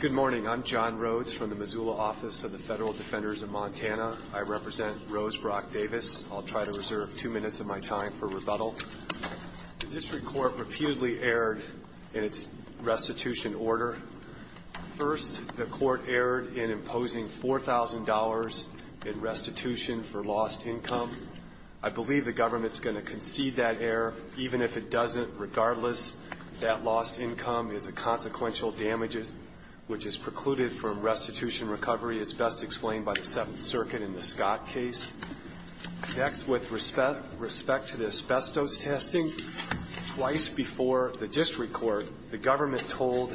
Good morning. I'm John Rhodes from the Missoula office of the Federal Defenders of Montana. I represent Rose Brock Davis. I'll try to reserve two minutes of my time for rebuttal. The district court reputedly erred in its restitution order. First, the court erred in imposing $4,000 in restitution for lost income. I believe the government is going to concede that error, even if it doesn't, regardless. That lost income is a consequential damage which is precluded from restitution recovery, as best explained by the Seventh Circuit in the Scott case. Next, with respect to the asbestos testing, twice before the district court, the government told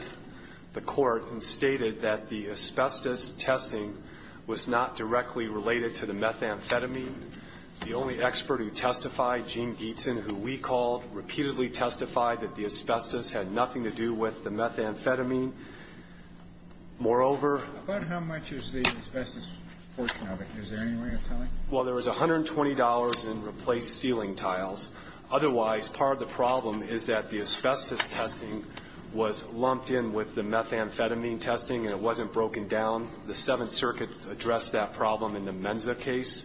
the court and stated that the asbestos testing was not directly related to the methamphetamine. The only expert who testified, Gene Gietzen, who we called, repeatedly testified that the asbestos had nothing to do with the methamphetamine. Moreover — But how much is the asbestos portion of it? Is there any way of telling? Well, there was $120 in replaced ceiling tiles. Otherwise, part of the problem is that the asbestos testing was lumped in with the methamphetamine testing and it wasn't broken down. The Seventh Circuit addressed that problem in the Menza case.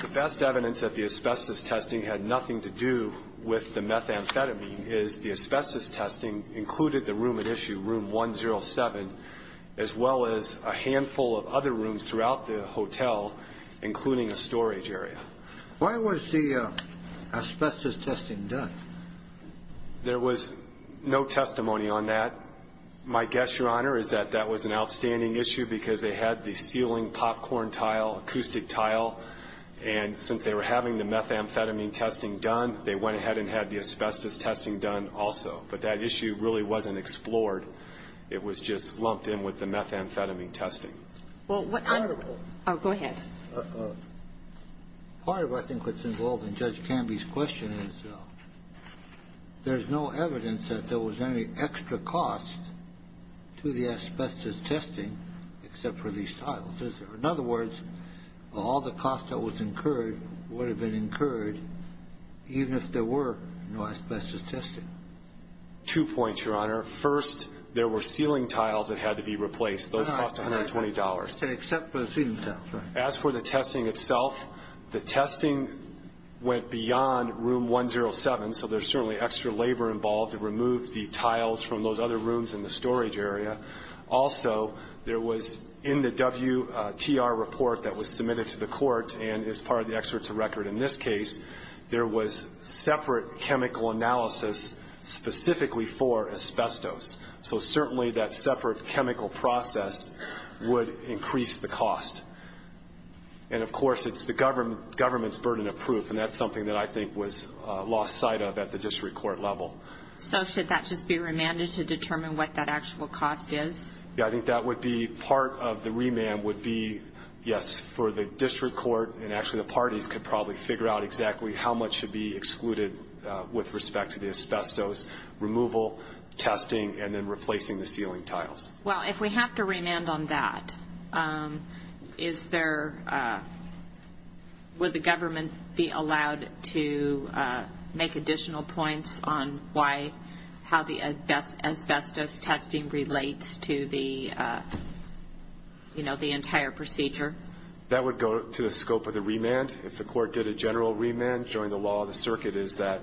The best evidence that the asbestos testing had nothing to do with the methamphetamine is the asbestos testing included the room at issue, room 107, as well as a handful of other rooms throughout the hotel, including a storage area. Why was the asbestos testing done? There was no testimony on that. My guess, Your Honor, is that that was an outstanding issue because they had the ceiling popcorn tile, acoustic tile, and since they were having the methamphetamine testing done, they went ahead and had the asbestos testing done also. But that issue really wasn't explored. It was just lumped in with the methamphetamine testing. Well, what — Go ahead. Part of, I think, what's involved in Judge Canby's question is there's no evidence that there was any extra cost to the asbestos testing except for these tiles. In other words, all the cost that was incurred would have been incurred even if there were no asbestos testing. Two points, Your Honor. First, there were ceiling tiles that had to be replaced. Those cost $120. Except for the ceiling tiles, right. As for the testing itself, the testing went beyond Room 107, so there's certainly extra labor involved to remove the tiles from those other rooms in the storage area. Also, there was, in the WTR report that was submitted to the court and is part of the Excerpt to Record in this case, there was separate chemical analysis specifically for asbestos. So certainly that separate chemical process would increase the cost. And, of course, it's the government's burden of proof, and that's something that I think was lost sight of at the district court level. So should that just be remanded to determine what that actual cost is? Yeah, I think that would be part of the remand would be, yes, for the district court, and actually the parties could probably figure out exactly how much should be excluded with respect to the asbestos removal, testing, and then replacing the ceiling tiles. Well, if we have to remand on that, is there, would the government be allowed to make additional points on why, how the asbestos testing relates to the, you know, the entire procedure? That would go to the scope of the remand. If the court did a general remand, during the law of the circuit, is that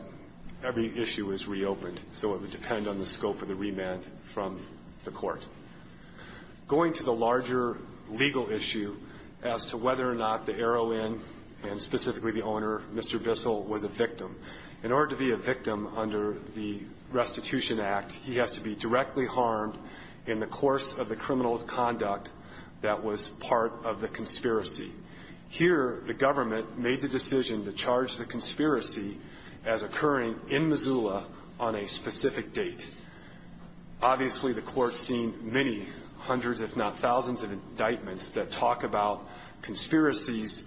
every issue is reopened. So it would depend on the scope of the remand from the court. Going to the larger legal issue as to whether or not the heroin, and specifically the owner, Mr. Bissell, was a victim. In order to be a victim under the Restitution Act, he has to be directly harmed in the course of the criminal conduct that was part of the conspiracy as occurring in Missoula on a specific date. Obviously, the court has seen many, hundreds if not thousands of indictments that talk about conspiracies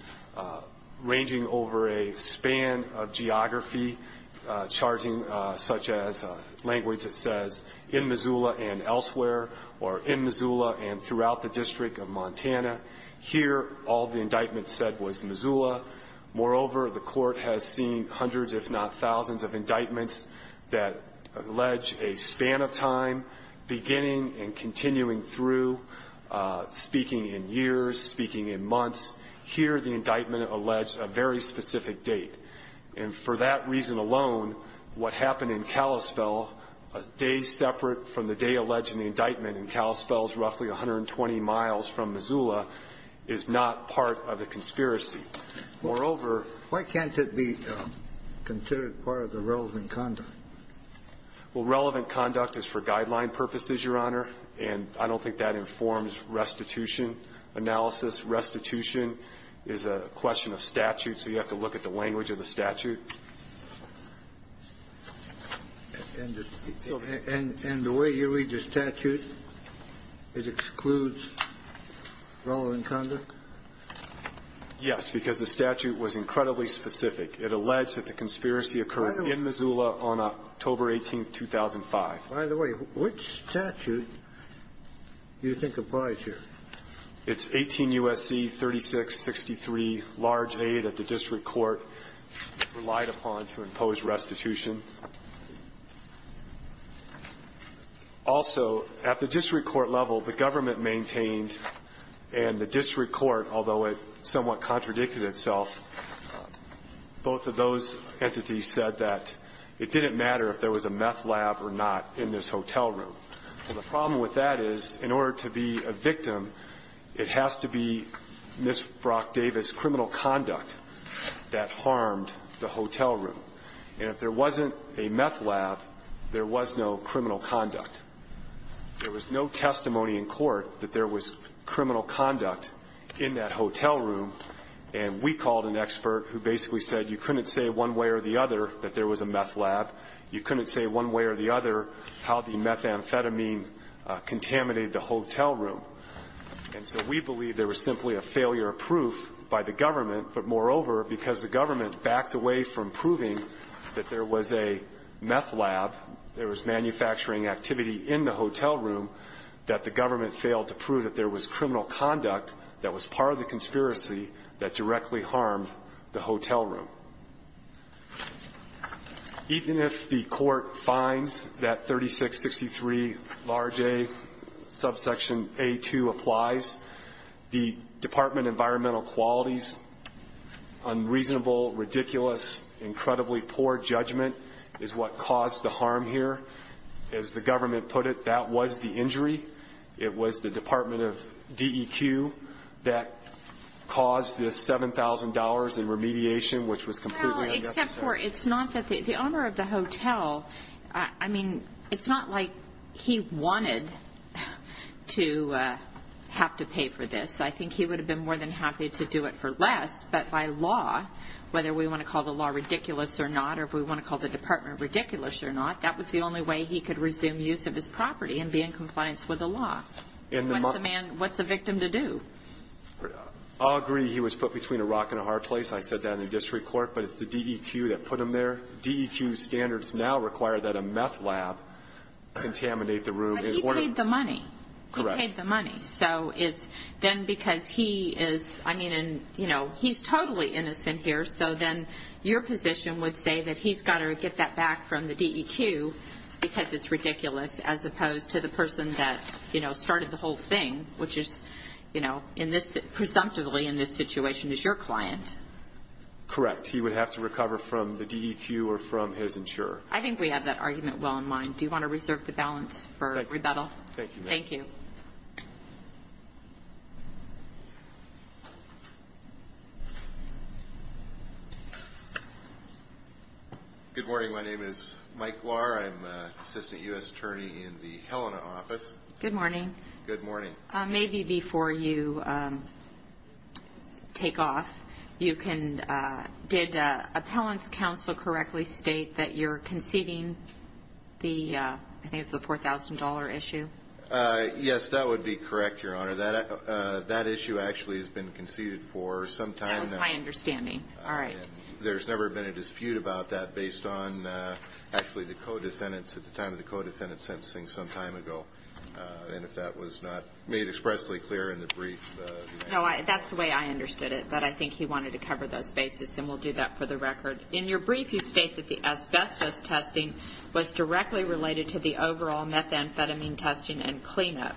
ranging over a span of geography, charting such as language that says, in Missoula and elsewhere, or in Missoula and throughout the District of Montana. Here, all the indictments said was Missoula. Moreover, the court has seen hundreds if not thousands of indictments that allege a span of time, beginning and continuing through, speaking in years, speaking in months. Here, the indictment alleged a very specific date. And for that reason alone, what happened in Kalispell, a day separate from the day alleged in the indictment in Kalispell's roughly 120 miles from Missoula, is not part of the conspiracy. Moreover... Why can't it be considered part of the relevant conduct? Well, relevant conduct is for guideline purposes, Your Honor, and I don't think that informs restitution analysis. Restitution is a question of statute, so you have to look at the language of the statute. And the way you read the statute, it excludes relevant conduct? Yes, because the statute was incredibly specific. It alleged that the conspiracy occurred in Missoula on October 18, 2005. By the way, which statute do you think applies here? It's 18 U.S.C. 3663, large aid that the district court relied upon to impose restitution. Also, at the district court level, the government maintained, and the district court, although it somewhat contradicted itself, both of those entities said that it didn't matter if there was a meth lab or not in this hotel room. Well, the problem with that is, in order to be a victim, it has to be Miss Brock Davis's criminal conduct that harmed the hotel room. And if there wasn't a criminal conduct and if there wasn't a meth lab, there was no criminal conduct. There was no testimony in court that there was criminal conduct in that hotel room, and we called an expert who basically said you couldn't say one way or the other that there was a meth lab. You couldn't say one way or the other how the methamphetamine contaminated the hotel room. And so we believe there was simply a failure of proof by the government, but moreover, because the government backed away from proving that there was a meth lab, there was manufacturing activity in the hotel room, that the government failed to prove that there was criminal conduct that was part of the conspiracy that directly harmed the hotel room. Even if the court finds that 3663, large A, subsection A2 applies, the Department of Environmental Quality's unreasonable, ridiculous, incredibly poor judgment is what caused the harm here. As the government put it, that was the injury. It was the Department of DEQ that caused this $7,000 in remediation, which was completely unnecessary. Except for it's not that the owner of the hotel, I mean, it's not like he wanted to have to pay for this. I think he would have been more than happy to do it for less, but by law, whether we want to call the law ridiculous or not or if we want to call the Department ridiculous or not, that was the only way he could resume use of his property and be in compliance with the law. What's a man, what's a victim to do? I'll agree he was put between a rock and a hard place. I said that in the district court, but it's the DEQ that put him there. DEQ standards now require that a meth lab contaminate the room. But he paid the money. Correct. He paid the money. So is then because he is, I mean, he's totally innocent here, so then your position would say that he's got to get that back from the DEQ because it's ridiculous as opposed to the person that started the whole thing, which is presumptively in this situation is your client. Correct. He would have to recover from the DEQ or from his insurer. I think we have that argument well in mind. Do you want to reserve the balance for rebuttal? Thank you. Thank you. Good morning. My name is Mike Lahr. I'm an assistant U.S. attorney in the Helena office. Good morning. Good morning. Maybe before you take off, you can, did appellant's counsel correctly state that you're conceding the, I think it's the $4,000 issue? Yes, that would be correct, Your Honor. That issue actually has been conceded for some time. That was my understanding. All right. There's never been a dispute about that based on actually the co-defendants at the time of the co-defendant sentencing some time ago, and if that was not made expressly clear in the brief. No, that's the way I understood it, but I think he wanted to cover those bases and we'll do that for the record. In your brief, you state that the asbestos testing was directly related to the overall methamphetamine testing and cleanup.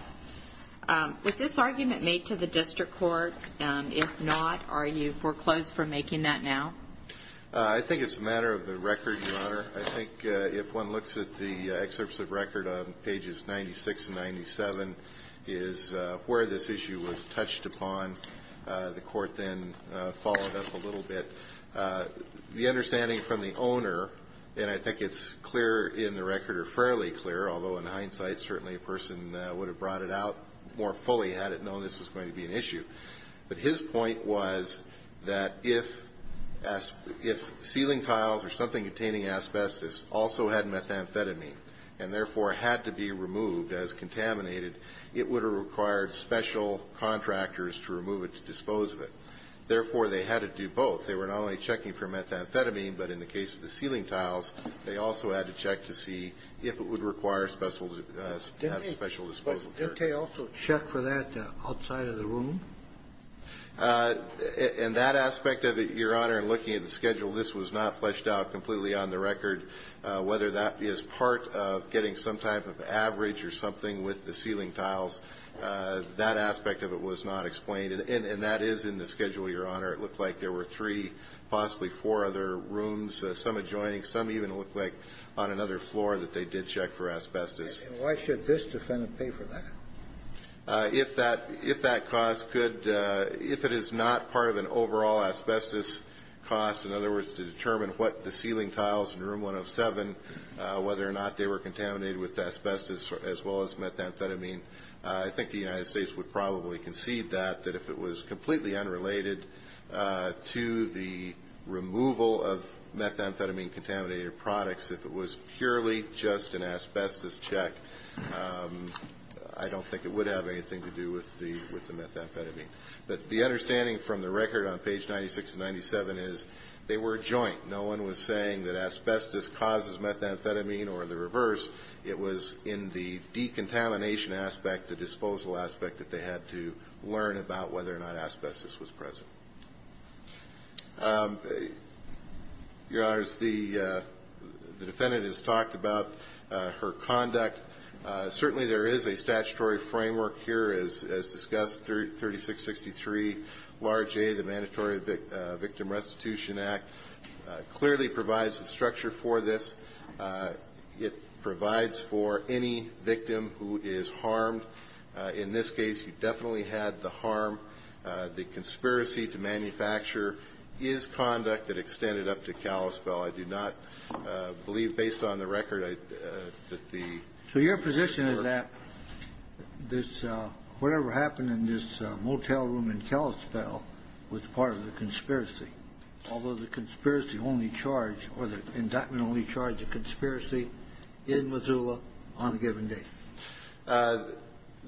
Was this argument made to the district court? If not, are you foreclosed from making that now? I think it's a matter of the record, Your Honor. I think if one looks at the excerpts of record on pages 96 and 97, is where this issue was touched upon. The court then followed up a little bit. The understanding from the owner, and I think it's clear in the record or fairly clear, although in hindsight, certainly a person would have brought it out more fully had it known this was going to be an issue. But his point was that if ceiling tiles or something containing asbestos also had methamphetamine and therefore had to be removed as contaminated, it would have required special contractors to remove it to dispose of it. Therefore, they had to do both. They were not only checking for methamphetamine, but in the case of the ceiling tiles, they also had to check to see if it would require special disposal. Did they also check for that outside of the room? In that aspect of it, Your Honor, looking at the schedule, this was not fleshed out completely on the record. Whether that is part of getting some type of average or something with the ceiling tiles, that aspect of it was not explained. And that is in the schedule, Your Honor. It looked like there were three, possibly four other rooms, some adjoining, some even looked like on another floor that they did check for asbestos. And why should this defendant pay for that? If that cost could — if it is not part of an overall asbestos cost, in other words, to determine what the ceiling tiles in Room 107, whether or not they were contaminated with asbestos as well as methamphetamine, I think the United States would probably concede that, that if it was completely unrelated to the removal of methamphetamine-contaminated products, if it was purely just an asbestos check, I don't think it would have anything to do with the methamphetamine. But the understanding from the record on page 96 and 97 is they were joint. No one was saying that asbestos causes methamphetamine or the reverse. It was in the decontamination aspect, the disposal aspect, that they had to learn about whether or not asbestos was present. Your Honors, the defendant has talked about her conduct. Certainly there is a statutory framework here as discussed, 3663 large A, the Mandatory Victim Restitution Act, clearly provides the structure for this. It provides for any victim who is harmed. In this case, you definitely had the harm, the conspiracy to manufacture his conduct that extended up to Kalispell. I do not believe, based on the record, that the... So your position is that this, whatever happened in this motel room in Kalispell was part of the conspiracy, although the conspiracy only charged, or the indictment only charged the conspiracy in Missoula on a given day.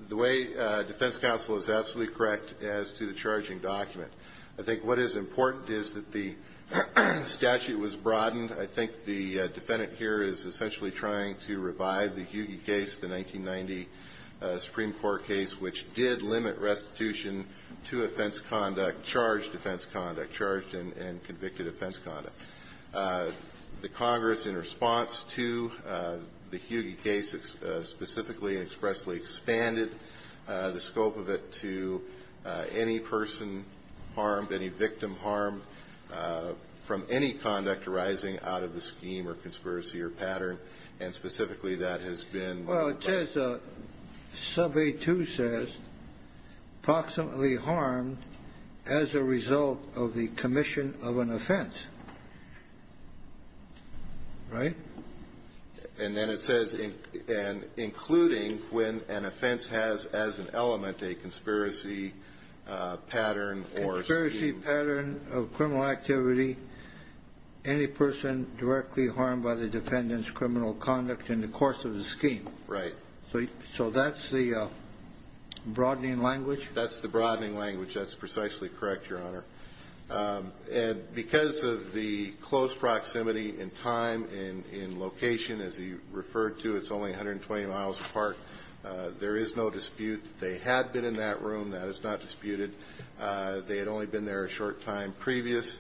The way defense counsel is absolutely correct as to the charging document, I think what is important is that the statute was broadened. I think the defendant here is essentially trying to revive the Hughey case, the 1990 Supreme Court case, which did limit restitution to offense conduct, charged offense conduct, charged and convicted offense conduct. The Congress, in response to the Hughey case, specifically and expressly expanded the scope of it to any person harmed, any victim harmed from any conduct arising out of the scheme or conspiracy or pattern, and specifically that has been... Well, it says, Sub A2 says, Approximately harmed as a result of the commission of an offense. Right? And then it says, including when an offense has as an element a conspiracy pattern or scheme. Conspiracy pattern of criminal activity, any person directly harmed by the defendant's criminal conduct in the course of the scheme. Right. So that's the broadening language? That's the broadening language. That's precisely correct, Your Honor. And because of the close proximity in time and in location, as he referred to, it's only 120 miles apart. There is no dispute that they had been in that room. That is not disputed. They had only been there a short time previous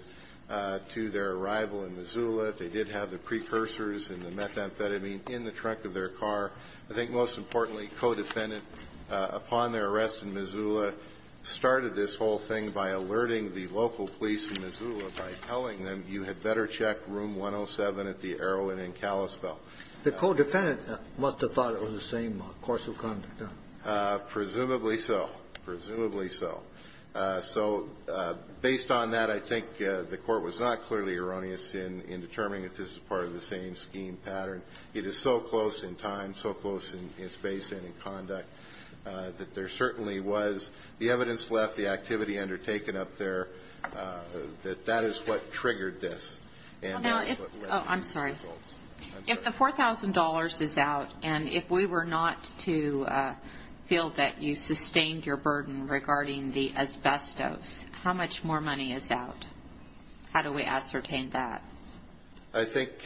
to their arrival in Missoula. They did have the precursors and the methamphetamine in the trunk of their car. I think most importantly, co-defendant, upon their arrest in Missoula, started this whole thing by alerting the local police in Missoula by telling them you had better check room 107 at the Arrow and in Kalispell. The co-defendant must have thought it was the same course of conduct. Presumably so. Presumably so. So based on that, I think the Court was not clearly erroneous in determining if this is part of the same scheme pattern. It is so close in time. So close in space and in conduct that there certainly was the evidence left, the activity undertaken up there, that that is what triggered this. I'm sorry. If the $4,000 is out and if we were not to feel that you sustained your burden regarding the asbestos, how much more money is out? How do we ascertain that? I think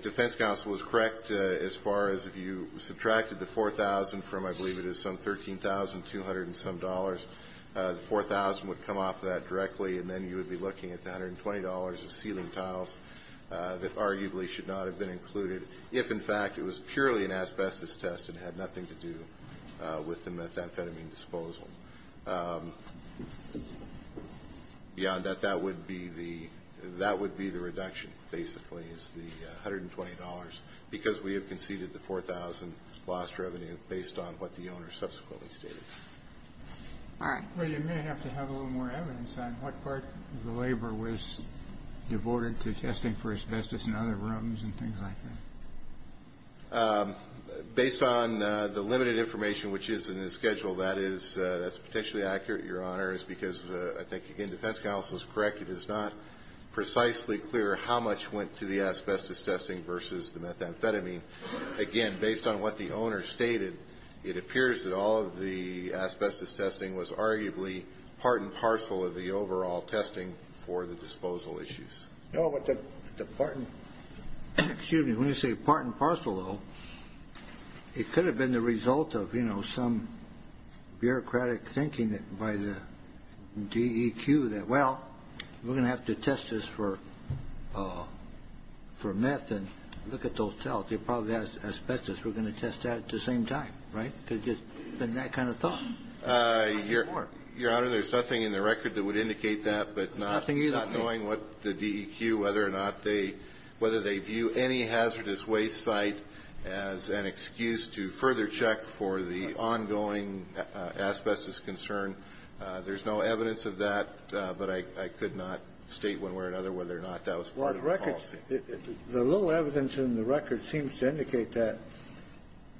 defense counsel is correct as far as if you subtracted the $4,000 from I believe it is some $13,200 and some dollars, the $4,000 would come off of that directly and then you would be looking at the $120 of ceiling tiles that arguably should not have been included if in fact it was purely an asbestos test and had nothing to do with the methamphetamine disposal. Beyond that, that would be the reduction, basically, is the $120 because we have conceded the $4,000 loss revenue based on what the owner subsequently stated. All right. Well, you may have to have a little more evidence on what part of the labor was devoted to testing for asbestos in other rooms and things like that. Based on the limited information which is in the schedule, that is potentially accurate, Your Honor, is because I think again defense counsel is correct. It is not precisely clear how much went to the asbestos testing versus the methamphetamine. Again, based on what the owner stated, it appears that all of the asbestos testing was arguably part and parcel of the overall testing for the disposal issues. No, but the part and parcel, though, it could have been the result of, you know, some bureaucratic thinking by the DEQ that, well, we're going to have to test this for meth and look at those cells. They probably have asbestos. We're going to test that at the same time, right? Because it's been that kind of thought. Your Honor, there's nothing in the record that would indicate that, but not knowing what the DEQ, whether or not they view any hazardous waste site as an excuse to further check for the ongoing asbestos concern. There's no evidence of that, but I could not state one way or another whether or not that was part of the policy. The little evidence in the record seems to indicate that,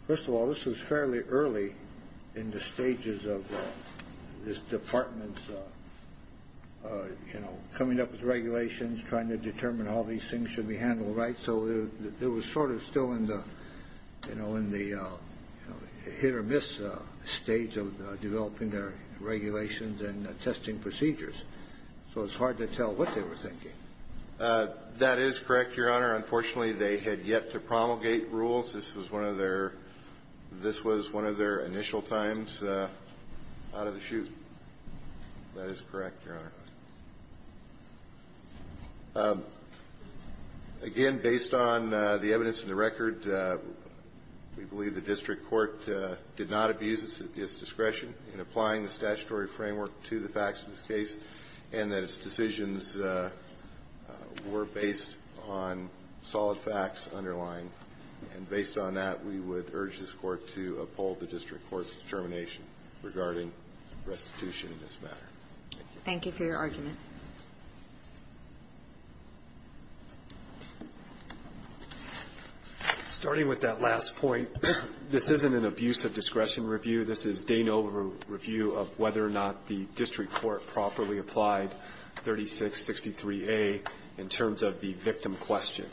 first of all, this was fairly early in the stages of this Department's, you know, coming up with regulations, trying to determine how these things should be handled, right? So it was sort of still in the, you know, in the hit-or-miss stage of developing their regulations and testing procedures. So it's hard to tell what they were thinking. That is correct, Your Honor. Unfortunately, they had yet to promulgate rules. This was one of their initial times out of the chute. That is correct, Your Honor. Again, based on the evidence in the record, we believe the district court did not abuse its discretion in applying the statutory framework to the facts of this case and that its decisions were based on solid facts underlying. And based on that, we would urge this Court to uphold the district court's determination regarding restitution in this matter. Thank you for your argument. Starting with that last point, this isn't an abuse of discretion review. This is Dano review of whether or not the district court properly applied 3663A in terms of the victim question.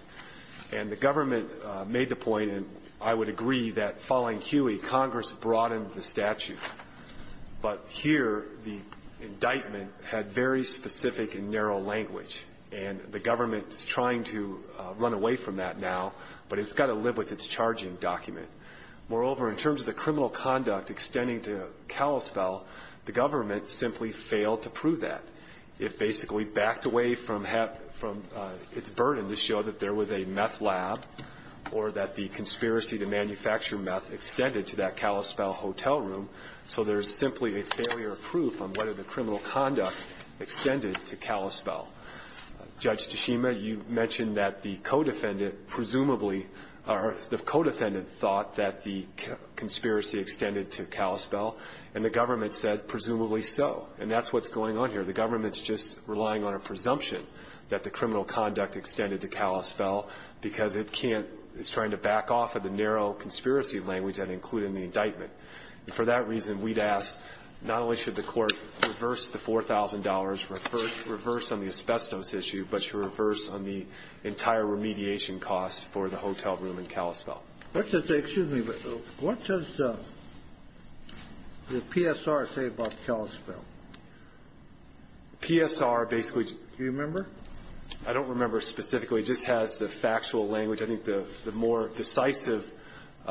And the government made the point, and I would agree that following Huey, Congress broadened the statute. But here, the indictment had very specific and narrow language, and the government is trying to run away from that now, but it's got to live with its charging document. Moreover, in terms of the criminal conduct extending to Kalispell, the government simply failed to prove that. It basically backed away from its burden to show that there was a meth lab or that the conspiracy to manufacture meth extended to that Kalispell hotel room, so there's simply a failure of proof on whether the criminal conduct extended to Kalispell. Judge Tashima, you mentioned that the co-defendant presumably or the co-defendant thought that the conspiracy extended to Kalispell, and the government said presumably so. And that's what's going on here. The government's just relying on a presumption that the criminal conduct extended to Kalispell because it can't – it can't offer the narrow conspiracy language that included in the indictment. And for that reason, we'd ask, not only should the Court reverse the $4,000, reverse on the asbestos issue, but should reverse on the entire remediation cost for the hotel room in Kalispell. What does the – excuse me, but what does the PSR say about Kalispell? PSR basically just – Do you remember? I don't remember specifically. It just has the factual language. I think the more decisive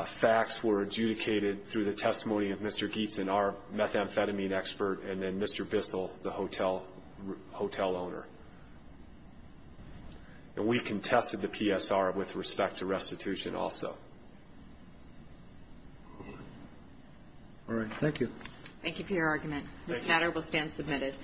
facts were adjudicated through the testimony of Mr. Gietzen, our methamphetamine expert, and then Mr. Bissell, the hotel owner. And we contested the PSR with respect to restitution also. All right. Thank you. Thank you for your argument. This matter will stand submitted.